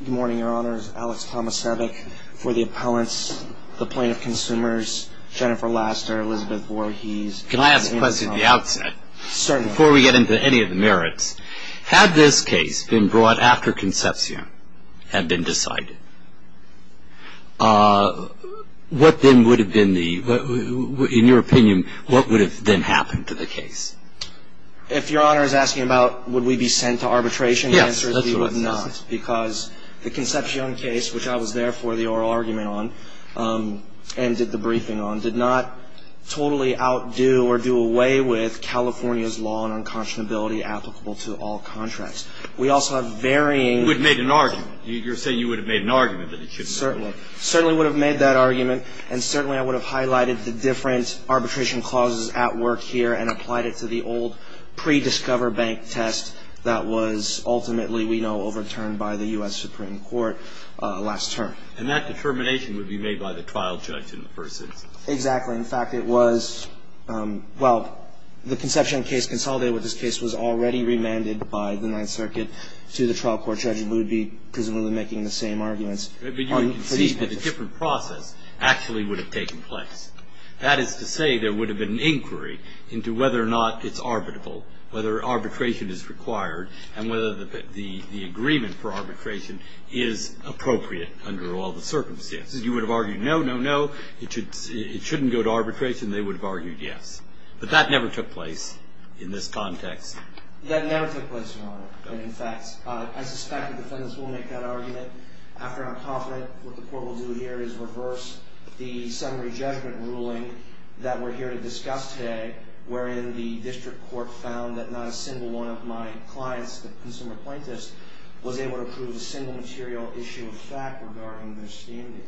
Good morning, your honors. Alex Tomasevic for the appellants, the plaintiff consumers, Jennifer Laster, Elizabeth Voorhees. Can I ask a question at the outset? Certainly. Before we get into any of the merits, had this case been brought after Concepcion had been decided, what then would have been the, in your opinion, what would have then happened to the case? If your honor is asking about would we be sent to arbitration, the answer is we would not. Because the Concepcion case, which I was there for the oral argument on and did the briefing on, did not totally outdo or do away with California's law on unconscionability applicable to all contracts. We also have varying… You would have made an argument. You're saying you would have made an argument that it shouldn't have. Certainly. Certainly would have made that argument. And certainly I would have highlighted the different arbitration clauses at work here and applied it to the old pre-Discover Bank test that was ultimately, we know, overturned by the U.S. Supreme Court last term. And that determination would be made by the trial judge in the first instance. Exactly. In fact, it was, well, the Concepcion case consolidated with this case was already remanded by the Ninth Circuit to the trial court judge who would be presumably making the same arguments. But you would concede that a different process actually would have taken place. That is to say there would have been an inquiry into whether or not it's arbitrable, whether arbitration is required, and whether the agreement for arbitration is appropriate under all the circumstances. You would have argued no, no, no. It shouldn't go to arbitration. They would have argued yes. But that never took place in this context. That never took place, Your Honor. In fact, I suspect the defendants will make that argument. After I'm confident, what the court will do here is reverse the summary judgment ruling that we're here to discuss today, wherein the district court found that not a single one of my clients, the consumer plaintiffs, was able to prove a single material issue of fact regarding their standing.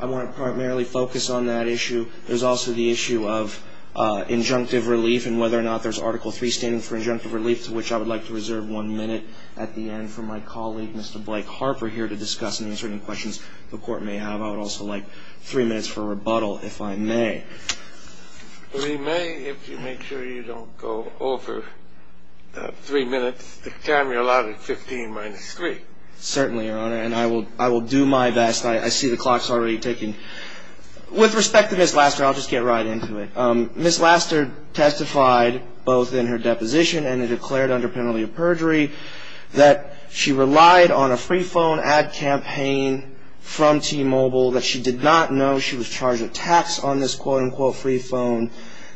I want to primarily focus on that issue. There's also the issue of injunctive relief and whether or not there's Article III standing for injunctive relief, to which I would like to reserve one minute at the end for my colleague, Mr. Blake Harper, here to discuss and answer any questions the court may have. I would also like three minutes for rebuttal, if I may. We may, if you make sure you don't go over three minutes. The time you're allowed is 15 minus 3. Certainly, Your Honor. And I will do my best. I see the clock's already ticking. With respect to Ms. Laster, I'll just get right into it. Ms. Laster testified both in her deposition and in her declared under penalty of perjury that she relied on a free phone ad campaign from T-Mobile, that she did not know she was charged with tax on this quote-unquote free phone,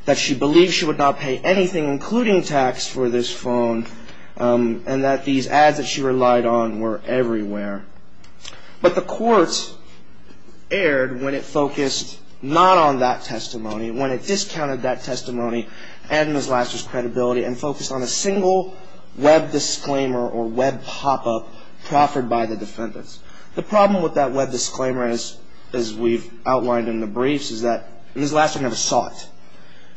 that she believed she would not pay anything, including tax, for this phone, and that these ads that she relied on were everywhere. But the court erred when it focused not on that testimony, when it discounted that testimony and Ms. Laster's credibility and focused on a single web disclaimer or web pop-up proffered by the defendants. The problem with that web disclaimer, as we've outlined in the briefs, is that Ms. Laster never saw it.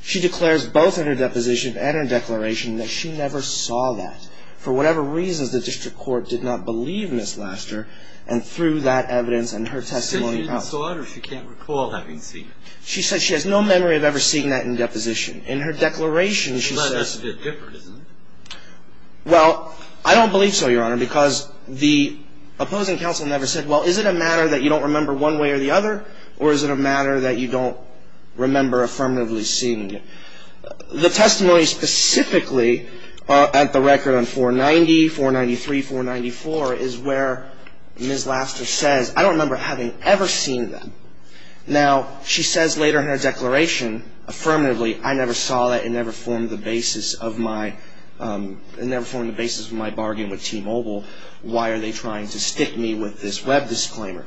She declares both in her deposition and her declaration that she never saw that. For whatever reasons, the district court did not believe Ms. Laster, and through that evidence and her testimony... She said she didn't saw it, or she can't recall having seen it. She said she has no memory of ever seeing that in deposition. In her declaration, she says... Well, that's a bit different, isn't it? Well, I don't believe so, Your Honor, because the opposing counsel never said, well, is it a matter that you don't remember one way or the other, or is it a matter that you don't remember affirmatively seeing it? The testimony specifically at the record on 490, 493, 494, is where Ms. Laster says, I don't remember having ever seen that. Now, she says later in her declaration, affirmatively, I never saw that, it never formed the basis of my bargain with T-Mobile. Why are they trying to stick me with this web disclaimer?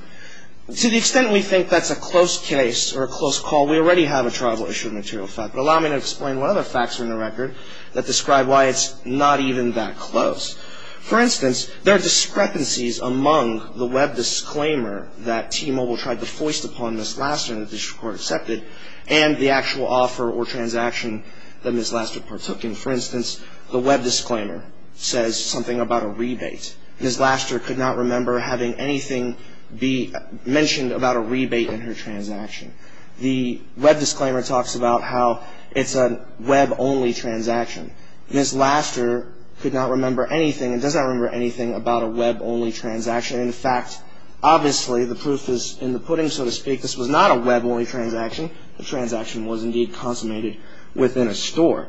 To the extent we think that's a close case or a close call, well, we already have a tribal issue of material fact, but allow me to explain what other facts are in the record that describe why it's not even that close. For instance, there are discrepancies among the web disclaimer that T-Mobile tried to foist upon Ms. Laster and the district court accepted, and the actual offer or transaction that Ms. Laster partook in. For instance, the web disclaimer says something about a rebate. Ms. Laster could not remember having anything be mentioned about a rebate in her transaction. The web disclaimer talks about how it's a web-only transaction. Ms. Laster could not remember anything and does not remember anything about a web-only transaction. In fact, obviously, the proof is in the pudding, so to speak. This was not a web-only transaction. The transaction was indeed consummated within a store.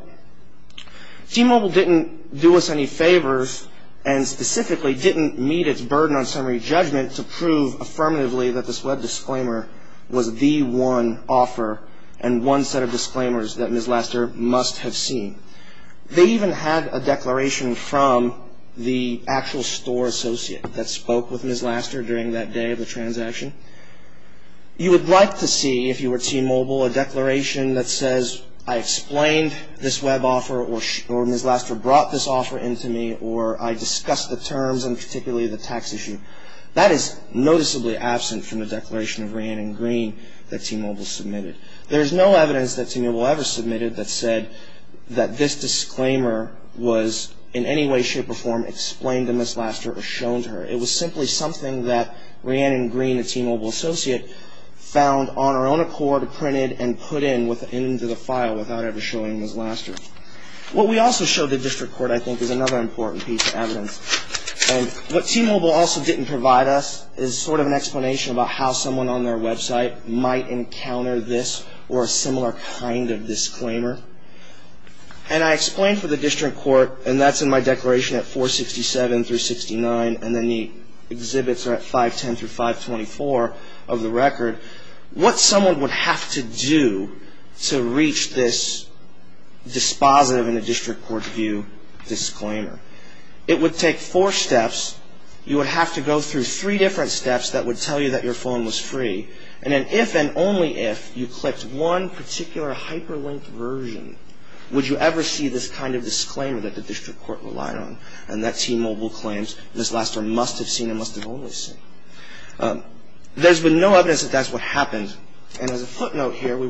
T-Mobile didn't do us any favors and specifically didn't meet its burden on summary judgment to prove affirmatively that this web disclaimer was the one offer and one set of disclaimers that Ms. Laster must have seen. They even had a declaration from the actual store associate that spoke with Ms. Laster during that day of the transaction. You would like to see, if you were T-Mobile, a declaration that says I explained this web offer or Ms. Laster brought this offer into me or I discussed the terms and particularly the tax issue. That is noticeably absent from the declaration of Rhiannon Green that T-Mobile submitted. There is no evidence that T-Mobile ever submitted that said that this disclaimer was in any way, shape, or form explained to Ms. Laster or shown to her. It was simply something that Rhiannon Green, a T-Mobile associate, found on her own accord, printed, and put into the file without ever showing Ms. Laster. What we also showed the District Court, I think, is another important piece of evidence. What T-Mobile also didn't provide us is sort of an explanation about how someone on their website might encounter this or a similar kind of disclaimer. And I explained for the District Court, and that's in my declaration at 467 through 69 and then the exhibits are at 510 through 524 of the record, what someone would have to do to reach this dispositive in a District Court view disclaimer. It would take four steps. You would have to go through three different steps that would tell you that your phone was free. And then if and only if you clicked one particular hyperlinked version, would you ever see this kind of disclaimer that the District Court relied on and that T-Mobile claims Ms. Laster must have seen and must have only seen. There's been no evidence that that's what happened. You know, you're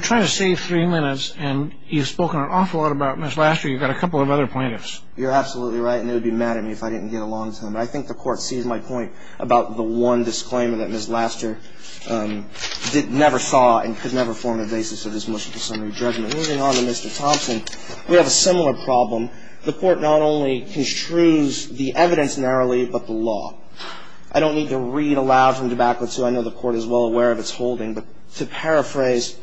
trying to save three minutes and you've spoken an awful lot about Ms. Laster. You've got a couple of other plaintiffs. You're absolutely right, and it would be mad at me if I didn't get along with him. I think the Court sees my point about the one disclaimer that Ms. Laster never saw and could never form the basis of this motion for summary judgment. Moving on to Mr. Thompson, we have a similar problem. The Court not only construes the evidence narrowly, but the law. I don't need to read aloud from DeBacco too. I know the Court is well aware of its holding, but to paraphrase,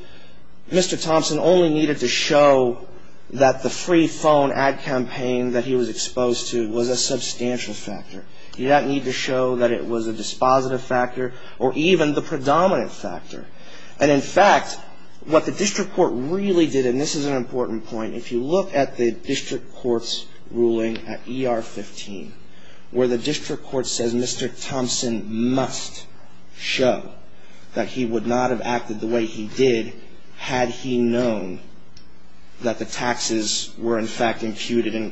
Mr. Thompson only needed to show that the free phone ad campaign that he was exposed to was a substantial factor. He didn't need to show that it was a dispositive factor or even the predominant factor. And in fact, what the District Court really did, and this is an important point, if you look at the District Court's ruling at ER 15, where the District Court says Mr. Thompson must show that he would not have acted the way he did had he known that the taxes were in fact imputed and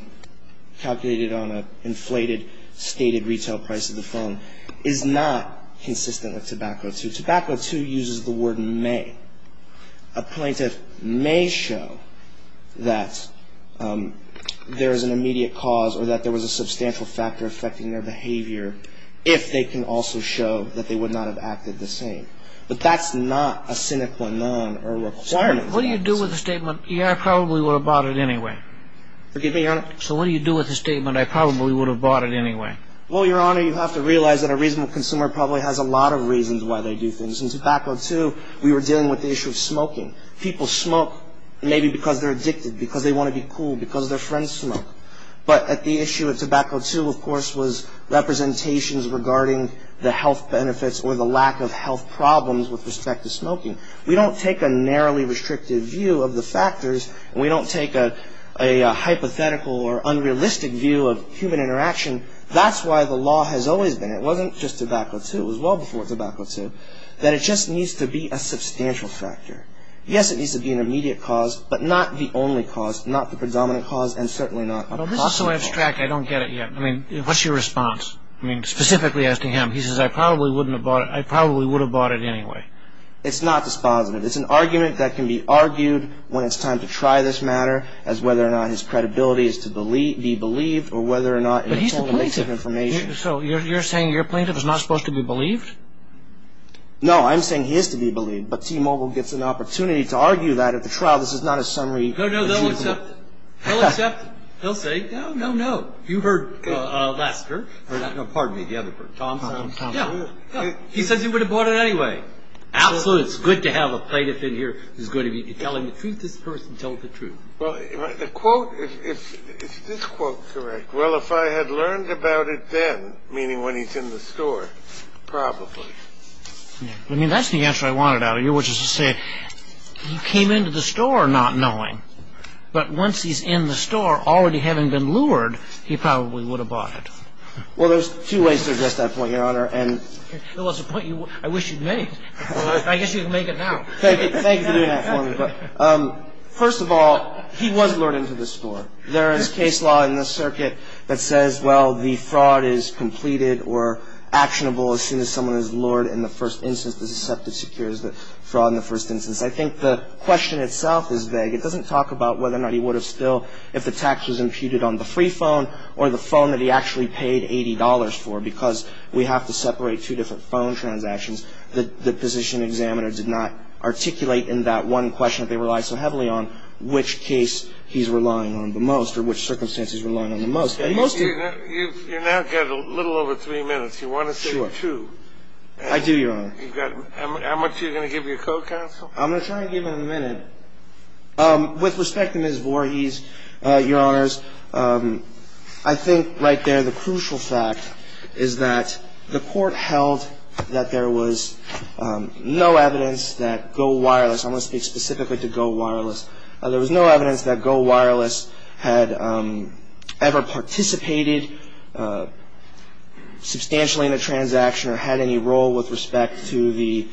calculated on an inflated stated retail price of the phone, is not consistent with Tobacco II. Tobacco II uses the word may. A plaintiff may show that there is an immediate cause or that there was a substantial factor affecting their behavior if they can also show that they would not have acted the same. But that's not a cynical or non-requirement. What do you do with a statement, yeah, I probably would have bought it anyway? Forgive me, Your Honor? So what do you do with a statement, I probably would have bought it anyway? Well, Your Honor, you have to realize that a reasonable consumer probably has a lot of reasons why they do things. In Tobacco II, we were dealing with the issue of smoking. People smoke maybe because they're addicted, But at the issue of Tobacco II, of course, was representations regarding the health benefits or the lack of health problems with respect to smoking. We don't take a narrowly restrictive view of the factors. We don't take a hypothetical or unrealistic view of human interaction. That's why the law has always been, it wasn't just Tobacco II, it was well before Tobacco II, that it just needs to be a substantial factor. Yes, it needs to be an immediate cause, and certainly not a possible cause. Also abstract, I don't get it yet. I mean, what's your response? I mean, specifically asking him. He says, I probably would have bought it anyway. It's not dispositive. It's an argument that can be argued when it's time to try this matter as whether or not his credibility is to be believed or whether or not it's only a mix of information. But he's the plaintiff. So you're saying your plaintiff is not supposed to be believed? No, I'm saying he is to be believed, but T-Mobile gets an opportunity to argue that at the trial. This is not a summary. No, no, they'll accept it. They'll accept it. They'll say, no, no, no. You heard Lester. No, pardon me, the other person. Thompson. Yeah. He says he would have bought it anyway. Absolutely. It's good to have a plaintiff in here who's going to be telling the truth. This person told the truth. Well, the quote, is this quote correct? Well, if I had learned about it then, meaning when he's in the store, probably. I mean, that's the answer I wanted out of you, which is to say he came into the store not knowing. But once he's in the store, already having been lured, he probably would have bought it. Well, there's two ways to address that point, Your Honor. Well, it's a point I wish you'd made. I guess you can make it now. Thank you for doing that for me. First of all, he was lured into the store. There is case law in this circuit that says, well, the fraud is completed or actionable as soon as someone is lured in the first instance. The deceptive secure is the fraud in the first instance. I think the question itself is vague. It doesn't talk about whether or not he would have still, if the tax was imputed on the free phone or the phone that he actually paid $80 for, because we have to separate two different phone transactions. The position examiner did not articulate in that one question that they relied so heavily on, which case he's relying on the most or which circumstance he's relying on the most. You now have a little over three minutes. You want to say two. I do, Your Honor. How much are you going to give your co-counsel? I'm going to try and give him a minute. With respect to Ms. Voorhees, Your Honors, I think right there the crucial fact is that the court held that there was no evidence that Go Wireless, I'm going to speak specifically to Go Wireless, there was no evidence that Go Wireless had ever participated substantially in a transaction or had any role with respect to the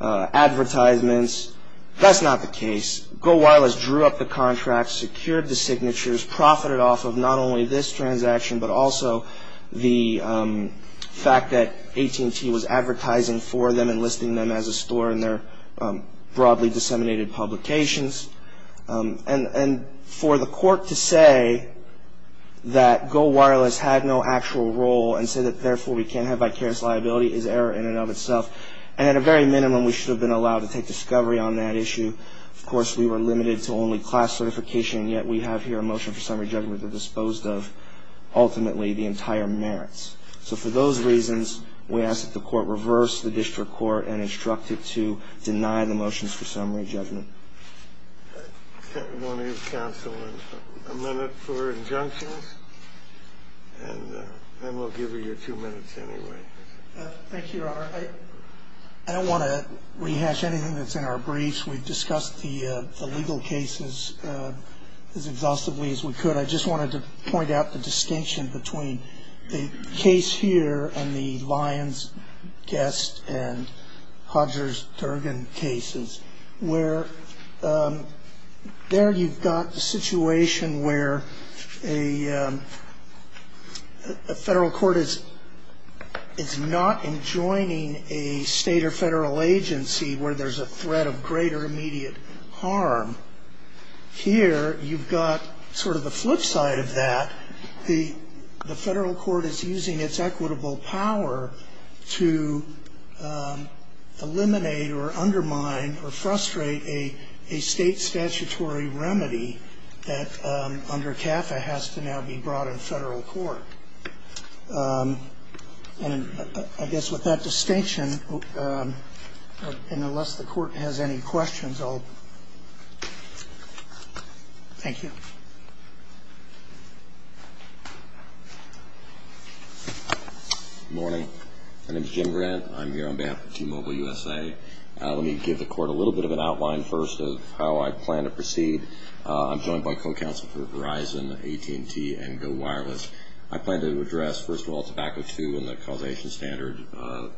advertisements. That's not the case. Go Wireless drew up the contract, secured the signatures, profited off of not only this transaction, but also the fact that AT&T was advertising for them and listing them as a store in their broadly disseminated publications. And for the court to say that Go Wireless had no actual role and say that therefore we can't have vicarious liability is error in and of itself. And at a very minimum, we should have been allowed to take discovery on that issue. Of course, we were limited to only class certification, and yet we have here a motion for summary judgment that disposed of ultimately the entire merits. So for those reasons, we ask that the court reverse the district court and instruct it to deny the motions for summary judgment. I want to give counsel a minute for injunctions, and then we'll give you your two minutes anyway. Thank you, Your Honor. I don't want to rehash anything that's in our briefs. We've discussed the legal cases as exhaustively as we could. But I just wanted to point out the distinction between the case here and the Lyons-Guest and Hodgers-Durgan cases, where there you've got a situation where a federal court is not enjoining a state or federal agency where there's a threat of greater immediate harm. Here, you've got sort of the flip side of that. The federal court is using its equitable power to eliminate or undermine or frustrate a state statutory remedy that under CAFA has to now be brought in federal court. And I guess with that distinction, and unless the court has any questions, I'll... Thank you. Good morning. My name is Jim Grant. I'm here on behalf of T-Mobile USA. Let me give the court a little bit of an outline first of how I plan to proceed. I'm joined by co-counsel for Verizon, AT&T, and Go Wireless. I plan to address, first of all, Tobacco II and the causation standard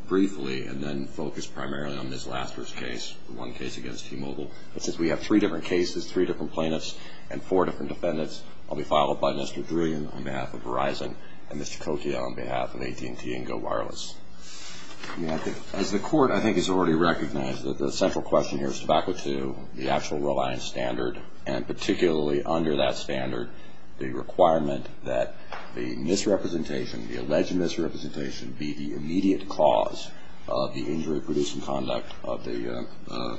briefly and then focus primarily on Ms. Lasker's case, the one case against T-Mobile. But since we have three different cases, three different plaintiffs, and four different defendants, I'll be followed by Mr. Druyan on behalf of Verizon and Mr. Coccia on behalf of AT&T and Go Wireless. As the court, I think, has already recognized that the central question here is Tobacco II, the actual reliance standard, and particularly under that standard, the requirement that the misrepresentation, the alleged misrepresentation, be the immediate cause of the injury-producing conduct of the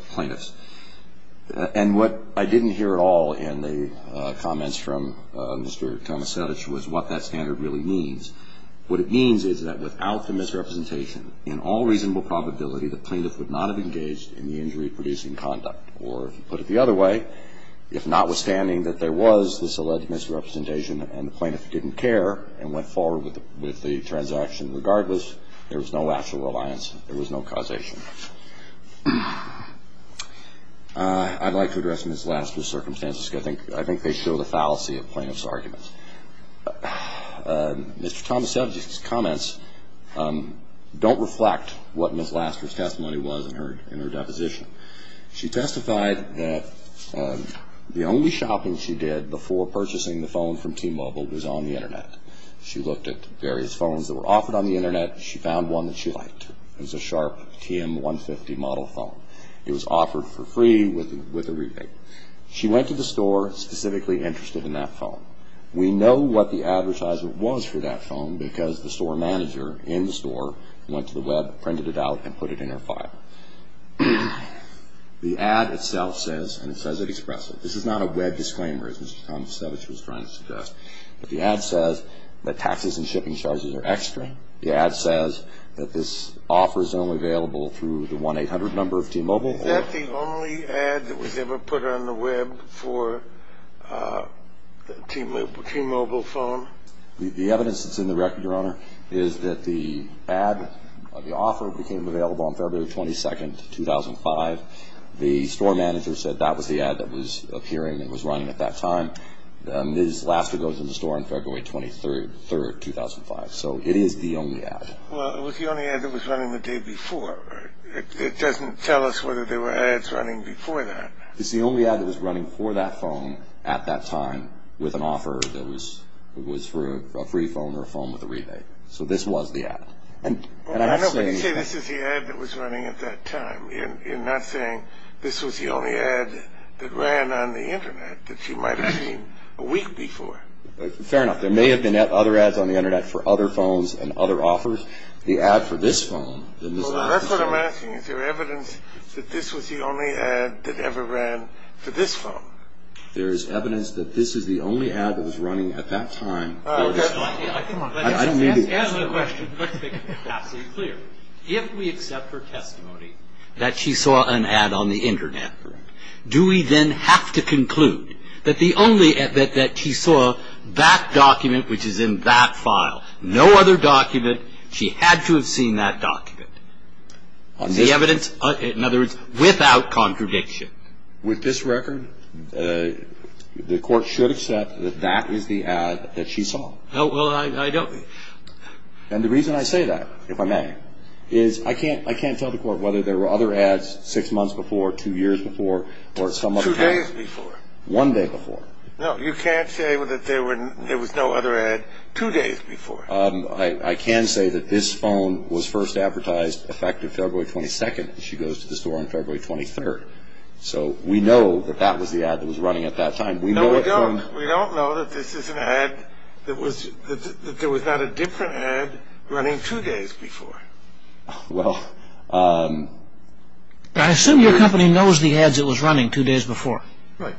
plaintiffs. And what I didn't hear at all in the comments from Mr. Tomasiewicz was what that standard really means. What it means is that without the misrepresentation, in all reasonable probability, the plaintiff would not have engaged in the injury-producing conduct. Or, to put it the other way, if notwithstanding that there was this alleged misrepresentation and the plaintiff didn't care and went forward with the transaction regardless, there was no actual reliance, there was no causation. I'd like to address Ms. Lasker's circumstances because I think they show the fallacy of plaintiffs' arguments. Mr. Tomasiewicz's comments don't reflect what Ms. Lasker's testimony was in her deposition. She testified that the only shopping she did before purchasing the phone from T-Mobile was on the Internet. She looked at various phones that were offered on the Internet. She found one that she liked. It was a Sharp TM150 model phone. It was offered for free with a rebate. She went to the store specifically interested in that phone. We know what the advertisement was for that phone because the store manager in the store went to the Web, printed it out, and put it in her file. The ad itself says, and it says it expressly, this is not a Web disclaimer, as Mr. Tomasiewicz was trying to suggest, but the ad says that taxes and shipping charges are extra. The ad says that this offer is only available through the 1-800 number of T-Mobile. Is that the only ad that was ever put on the Web for a T-Mobile phone? The evidence that's in the record, Your Honor, is that the ad, the offer, became available on February 22, 2005. The store manager said that was the ad that was appearing and was running at that time. Ms. Lasker goes into the store on February 23, 2005. So it is the only ad. Well, it was the only ad that was running the day before. It doesn't tell us whether there were ads running before that. It's the only ad that was running for that phone at that time with an offer that was for a free phone or a phone with a rebate. So this was the ad. I know, but you say this is the ad that was running at that time. You're not saying this was the only ad that ran on the Internet that you might have seen a week before. Fair enough. There may have been other ads on the Internet for other phones and other offers. Well, the record I'm asking, is there evidence that this was the only ad that ever ran for this phone? There is evidence that this is the only ad that was running at that time for this phone. Answer the question. Let's make it absolutely clear. If we accept her testimony that she saw an ad on the Internet, do we then have to conclude that the only ad that she saw, that document which is in that file, no other document, she had to have seen that document? Is the evidence, in other words, without contradiction? With this record, the Court should accept that that is the ad that she saw. No, well, I don't. And the reason I say that, if I may, is I can't tell the Court whether there were other ads six months before, two years before, or some other time. Two days before. One day before. No, you can't say that there was no other ad two days before. I can say that this phone was first advertised effective February 22nd, and she goes to the store on February 23rd. So we know that that was the ad that was running at that time. No, we don't. We don't know that this is an ad, that there was not a different ad running two days before. Well... I assume your company knows the ads that was running two days before. Right.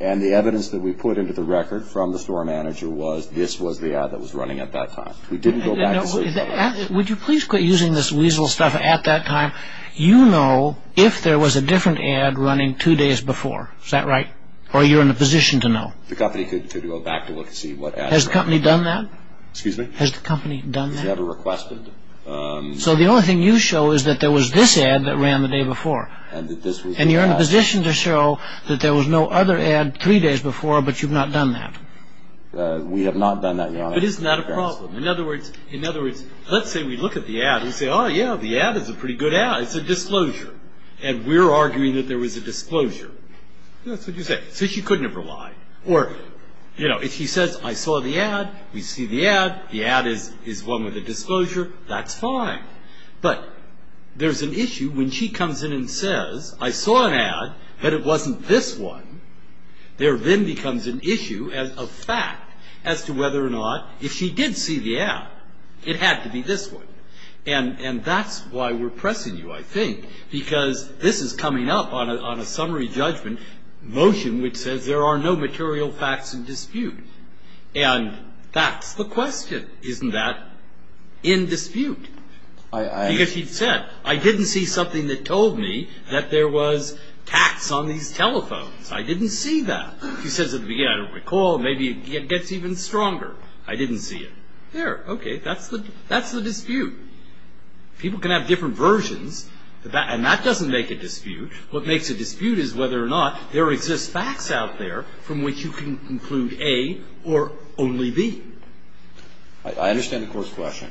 And the evidence that we put into the record from the store manager was this was the ad that was running at that time. We didn't go back and say... Would you please quit using this weasel stuff, at that time. You know if there was a different ad running two days before. Is that right? Or are you in a position to know? The company could go back and look and see what ad... Has the company done that? Excuse me? Has the company done that? It was never requested. So the only thing you show is that there was this ad that ran the day before. And you're in a position to show that there was no other ad three days before, but you've not done that. We have not done that, Your Honor. But isn't that a problem? In other words, let's say we look at the ad and say, oh yeah, the ad is a pretty good ad, it's a disclosure. And we're arguing that there was a disclosure. That's what you say. So she couldn't have relied. Or, you know, if she says, I saw the ad, we see the ad, the ad is one with a disclosure, that's fine. But there's an issue when she comes in and says, I saw an ad, but it wasn't this one. There then becomes an issue of fact as to whether or not, if she did see the ad, it had to be this one. And that's why we're pressing you, I think. Because this is coming up on a summary judgment motion which says there are no material facts in dispute. And that's the question. Isn't that in dispute? Because she said, I didn't see something that told me that there was tax on these telephones. I didn't see that. She says at the beginning, I don't recall, maybe it gets even stronger. I didn't see it. There. Okay. That's the dispute. People can have different versions. And that doesn't make a dispute. What makes a dispute is whether or not there exist facts out there from which you can conclude A or only B. I understand the Court's question.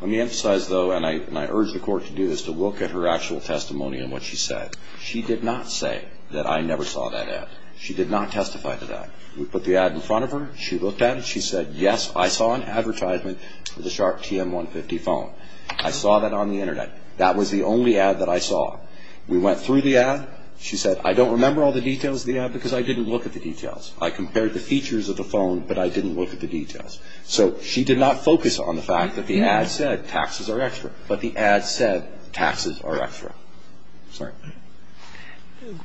Let me emphasize, though, and I urge the Court to do this, to look at her actual testimony and what she said. She did not say that I never saw that ad. She did not testify to that. We put the ad in front of her. She looked at it. She said, yes, I saw an advertisement for the Sharp TM150 phone. I saw that on the Internet. That was the only ad that I saw. We went through the ad. She said, I don't remember all the details of the ad because I didn't look at the details. I compared the features of the phone, but I didn't look at the details. So she did not focus on the fact that the ad said taxes are extra, but the ad said taxes are extra. Sorry.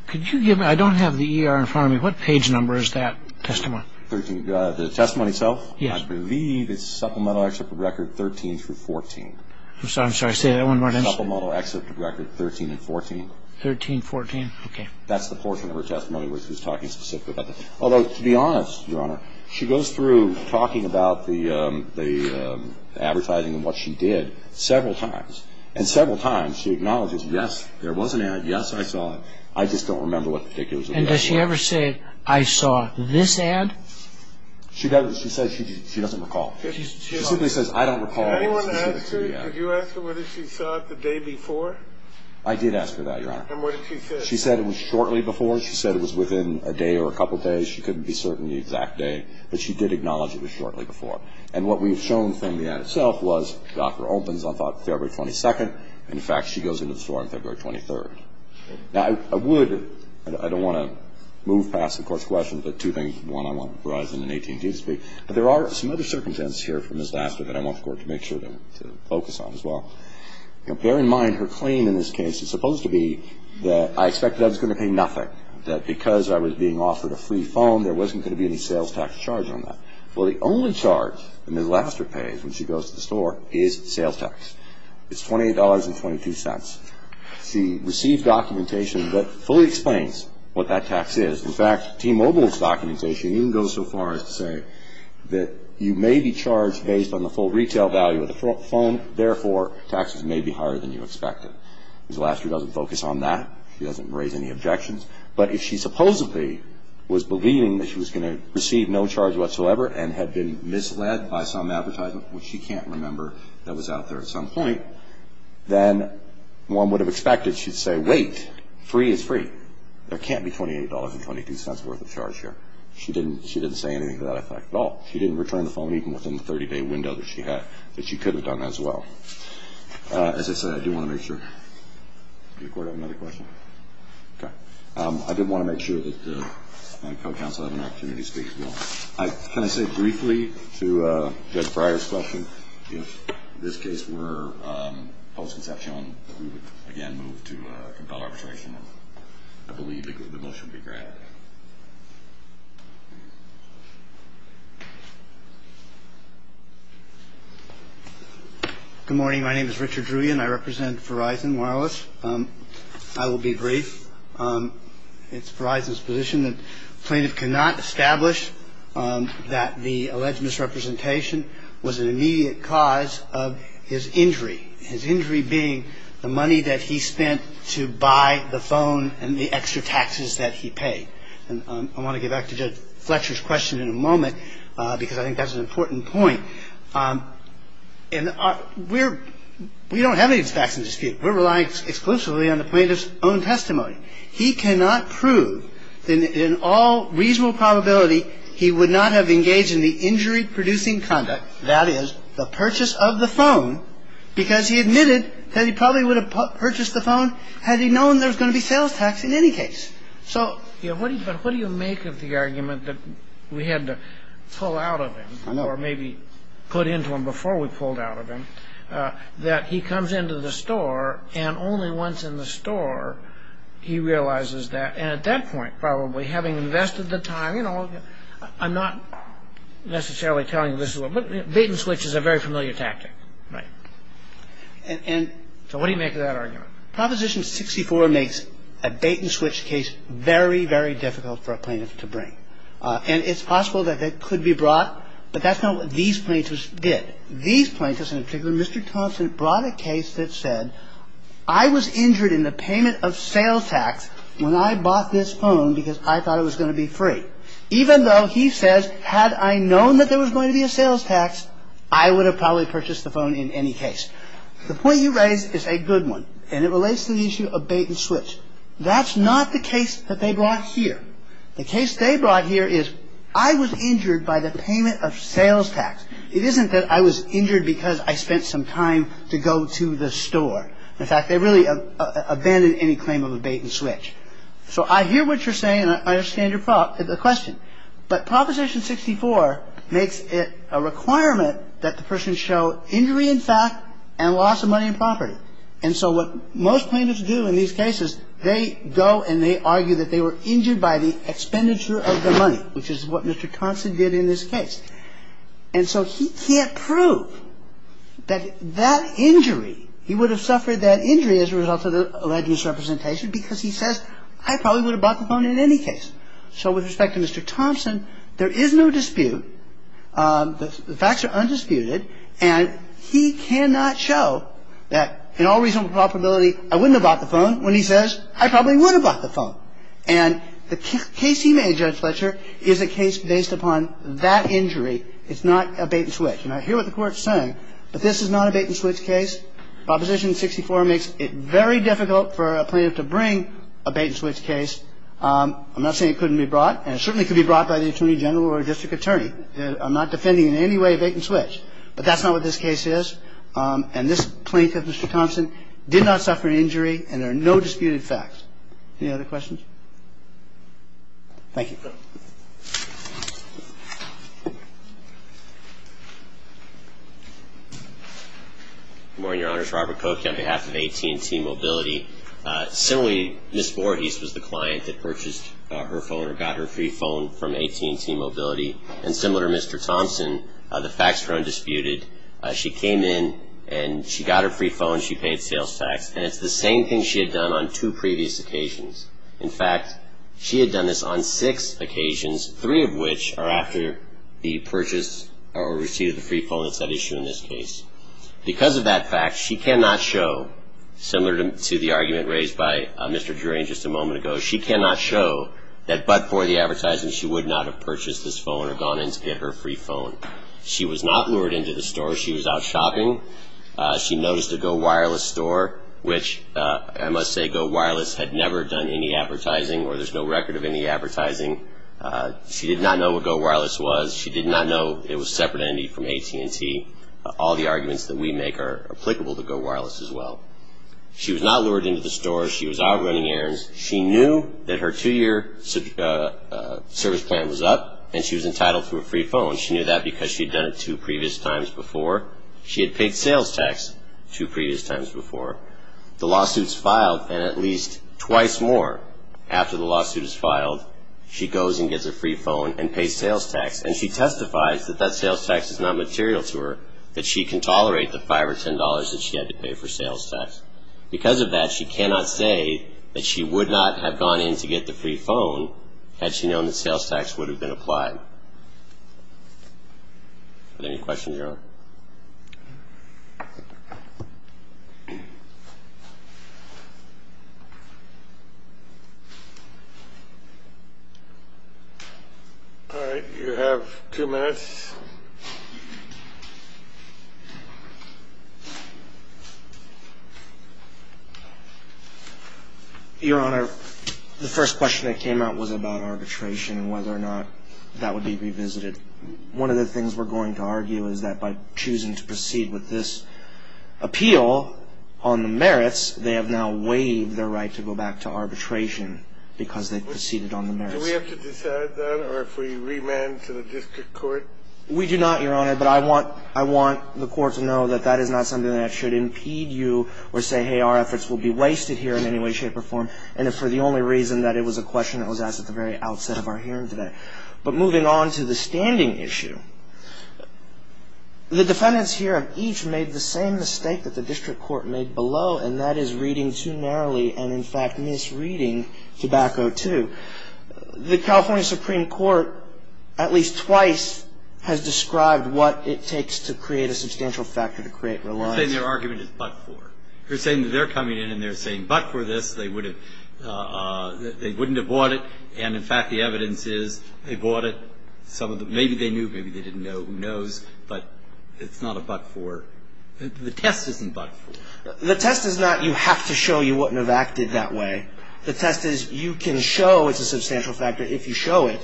Could you give me ñ I don't have the ER in front of me. What page number is that testimony? The testimony itself? Yes. I believe it's Supplemental Excerpt of Record 13-14. I'm sorry. Say that one more time. Supplemental Excerpt of Record 13-14. 13-14. Okay. That's the portion of her testimony where she was talking specifically about that. Although, to be honest, Your Honor, she goes through talking about the advertising and what she did several times. And several times she acknowledges, yes, there was an ad, yes, I saw it. I just don't remember what particulars of the ad. And does she ever say, I saw this ad? She doesn't. She says she doesn't recall. She simply says, I don't recall. Did anyone ask her, did you ask her whether she saw it the day before? I did ask her that, Your Honor. And what did she say? She said it was shortly before. She said it was within a day or a couple days. She couldn't be certain the exact day. But she did acknowledge it was shortly before. And what we have shown from the ad itself was the offer opens on, I thought, February 22nd. In fact, she goes into the store on February 23rd. Now, I would, I don't want to move past the Court's questions, but two things. One, I want Verizon and AT&T to speak. But there are some other circumstances here for Ms. Laster that I want the Court to make sure to focus on as well. Now, bear in mind her claim in this case is supposed to be that I expected I was going to pay nothing, that because I was being offered a free phone, there wasn't going to be any sales tax charge on that. Well, the only charge that Ms. Laster pays when she goes to the store is sales tax. It's $28.22. She received documentation that fully explains what that tax is. In fact, T-Mobile's documentation even goes so far as to say that you may be charged based on the full retail value of the phone. And therefore, taxes may be higher than you expected. Ms. Laster doesn't focus on that. She doesn't raise any objections. But if she supposedly was believing that she was going to receive no charge whatsoever and had been misled by some advertisement, which she can't remember that was out there at some point, then one would have expected she'd say, wait, free is free. There can't be $28.22 worth of charge here. She didn't say anything to that effect at all. She didn't return the phone even within the 30-day window that she could have done as well. As I said, I do want to make sure. Does the court have another question? Okay. I did want to make sure that my co-counsel had an opportunity to speak as well. Can I say briefly to Judge Breyer's question, if this case were post-conception, that we would, again, move to a compel arbitration? I believe the motion would be granted. Good morning. My name is Richard Druyan. I represent Verizon Wireless. I will be brief. It's Verizon's position that plaintiff cannot establish that the alleged misrepresentation was an immediate cause of his injury, his injury being the money that he spent to buy the phone and the extra taxes that he paid. And I want to get back to Judge Fletcher's question in a moment because I think that's an important point. We don't have any facts in dispute. We're relying exclusively on the plaintiff's own testimony. He cannot prove that in all reasonable probability he would not have engaged in the injury-producing conduct, that is, the purchase of the phone, because he admitted that he probably would have purchased the phone had he known there was going to be sales tax in any case. But what do you make of the argument that we had to pull out of him or maybe put into him before we pulled out of him, that he comes into the store and only once in the store he realizes that? And at that point, probably, having invested the time, you know, I'm not necessarily telling you this is what – bait-and-switch is a very familiar tactic. Right. So what do you make of that argument? Proposition 64 makes a bait-and-switch case very, very difficult for a plaintiff to bring. And it's possible that it could be brought, but that's not what these plaintiffs did. These plaintiffs in particular – Mr. Thompson brought a case that said, I was injured in the payment of sales tax when I bought this phone because I thought it was going to be free. Even though he says, had I known that there was going to be a sales tax, I would have probably purchased the phone in any case. The point you raise is a good one, and it relates to the issue of bait-and-switch. That's not the case that they brought here. The case they brought here is, I was injured by the payment of sales tax. It isn't that I was injured because I spent some time to go to the store. In fact, they really abandoned any claim of a bait-and-switch. So I hear what you're saying, and I understand your question. But Proposition 64 makes it a requirement that the person show injury in fact and loss of money and property. And so what most plaintiffs do in these cases, they go and they argue that they were injured by the expenditure of the money, which is what Mr. Thompson did in this case. And so he can't prove that that injury, he would have suffered that injury as a result of the alleged misrepresentation because he says, I probably would have bought the phone in any case. So with respect to Mr. Thompson, there is no dispute. The facts are undisputed, and he cannot show that in all reasonable probability, I wouldn't have bought the phone when he says, I probably would have bought the phone. And the case he made, Judge Fletcher, is a case based upon that injury. It's not a bait-and-switch. And I hear what the Court is saying, but this is not a bait-and-switch case. Proposition 64 makes it very difficult for a plaintiff to bring a bait-and-switch case. I'm not saying it couldn't be brought, and it certainly could be brought by the Attorney General or a district attorney. I'm not defending in any way a bait-and-switch. But that's not what this case is. And this plaintiff, Mr. Thompson, did not suffer an injury, and there are no disputed facts. Any other questions? Thank you. Good morning, Your Honors. Robert Koch on behalf of AT&T Mobility. Similarly, Ms. Voorhees was the client that purchased her phone or got her free phone from AT&T Mobility. And similar to Mr. Thompson, the facts are undisputed. She came in, and she got her free phone. She paid sales tax. And it's the same thing she had done on two previous occasions. In fact, she had done this on six occasions, three of which are after the purchase or receipt of the free phone. It's that issue in this case. Because of that fact, she cannot show, similar to the argument raised by Mr. Drury just a moment ago, she cannot show that but for the advertising she would not have purchased this phone or gone in to get her free phone. She was not lured into the store. She was out shopping. She noticed a Go Wireless store, which I must say Go Wireless had never done any advertising or there's no record of any advertising. She did not know what Go Wireless was. She did not know it was a separate entity from AT&T. All the arguments that we make are applicable to Go Wireless as well. She was not lured into the store. She was out running errands. She knew that her two-year service plan was up, and she was entitled to a free phone. She knew that because she had done it two previous times before. She had paid sales tax two previous times before. The lawsuit's filed, and at least twice more after the lawsuit is filed, she goes and gets a free phone and pays sales tax. And she testifies that that sales tax is not material to her, that she can tolerate the $5 or $10 that she had to pay for sales tax. Because of that, she cannot say that she would not have gone in to get the free phone had she known that sales tax would have been applied. Any questions, Your Honor? All right. You have two minutes. Your Honor, the first question that came out was about arbitration and whether or not that would be revisited. One of the things we're going to argue is that by choosing to proceed with this appeal on the merits, they have now waived their right to go back to arbitration because they proceeded on the merits. Do we have to decide that, or if we remand to the district court? We do not, Your Honor, but I want the court to know that that is not something that should impede you or say, hey, our efforts will be wasted here in any way, shape, or form, and if for the only reason that it was a question that was asked at the very outset of our hearing today. But moving on to the standing issue, the defendants here have each made the same mistake that the district court made below, and that is reading too narrowly and, in fact, misreading Tobacco II. The California Supreme Court at least twice has described what it takes to create a substantial factor to create reliance. You're saying their argument is but-for. You're saying that they're coming in and they're saying but-for this. They wouldn't have bought it. And, in fact, the evidence is they bought it. Maybe they knew. Maybe they didn't know. Who knows? But it's not a but-for. The test isn't but-for. The test is not you have to show you wouldn't have acted that way. The test is you can show it's a substantial factor if you show it.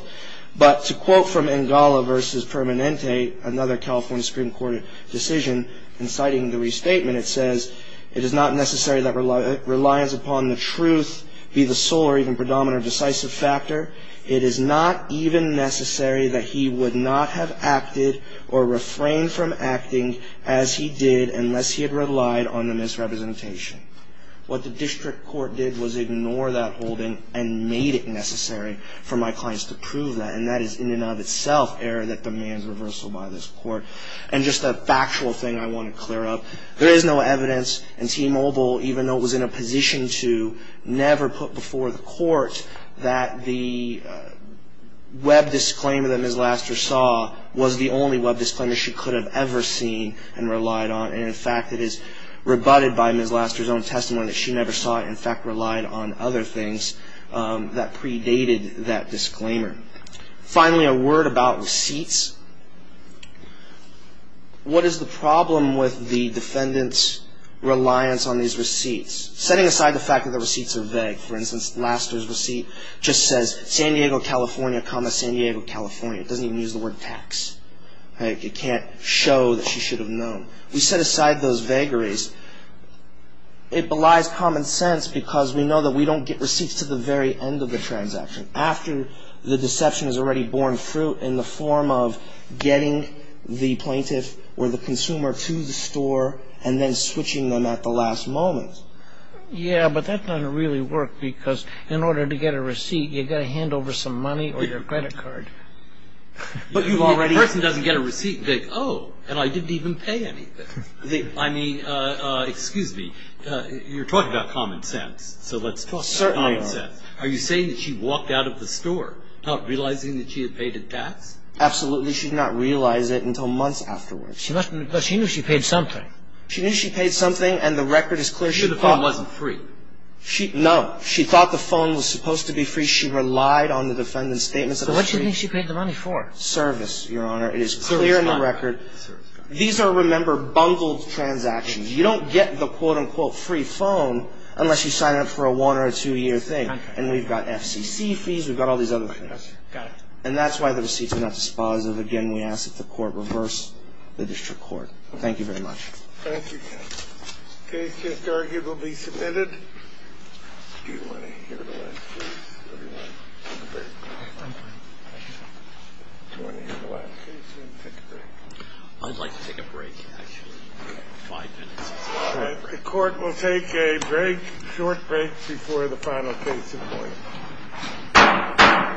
But to quote from Engala v. Permanente, another California Supreme Court decision, and citing the restatement, it says, it is not necessary that reliance upon the truth be the sole or even predominant or decisive factor. It is not even necessary that he would not have acted or refrained from acting as he did unless he had relied on a misrepresentation. What the district court did was ignore that holding and made it necessary for my clients to prove that, and that is in and of itself error that demands reversal by this Court. And just a factual thing I want to clear up. There is no evidence in T-Mobile, even though it was in a position to never put before the court, that the web disclaimer that Ms. Laster saw was the only web disclaimer she could have ever seen and relied on. And, in fact, it is rebutted by Ms. Laster's own testimony that she never saw it. In fact, relied on other things that predated that disclaimer. Finally, a word about receipts. What is the problem with the defendant's reliance on these receipts? Setting aside the fact that the receipts are vague. For instance, Laster's receipt just says San Diego, California, comma, San Diego, California. It doesn't even use the word tax. It can't show that she should have known. We set aside those vagaries. It belies common sense because we know that we don't get receipts to the very end of the transaction. After the deception has already borne fruit in the form of getting the plaintiff or the consumer to the store and then switching them at the last moment. Yeah, but that doesn't really work because in order to get a receipt, you've got to hand over some money or your credit card. But you've already... The person doesn't get a receipt vague. Oh, and I didn't even pay anything. I mean, excuse me, you're talking about common sense. So let's... Well, certainly. Are you saying that she walked out of the store not realizing that she had paid a tax? Absolutely. She did not realize it until months afterwards. But she knew she paid something. She knew she paid something and the record is clear. She knew the phone wasn't free. No. She thought the phone was supposed to be free. She relied on the defendant's statements. So what do you think she paid the money for? Service, Your Honor. It is clear in the record. These are, remember, bundled transactions. You don't get the, quote, unquote, free phone unless you sign up for a one- or a two-year thing. And we've got FCC fees. We've got all these other things. Got it. And that's why the receipts are not dispositive. Again, we ask that the court reverse the district court. Thank you very much. Thank you. The case is arguably submitted. Do you want to hear the last case or do you want to take a break? I'm fine. Do you want to hear the last case or do you want to take a break? I'd like to take a break, actually. All right. The court will take a break, short break, before the final case is appointed.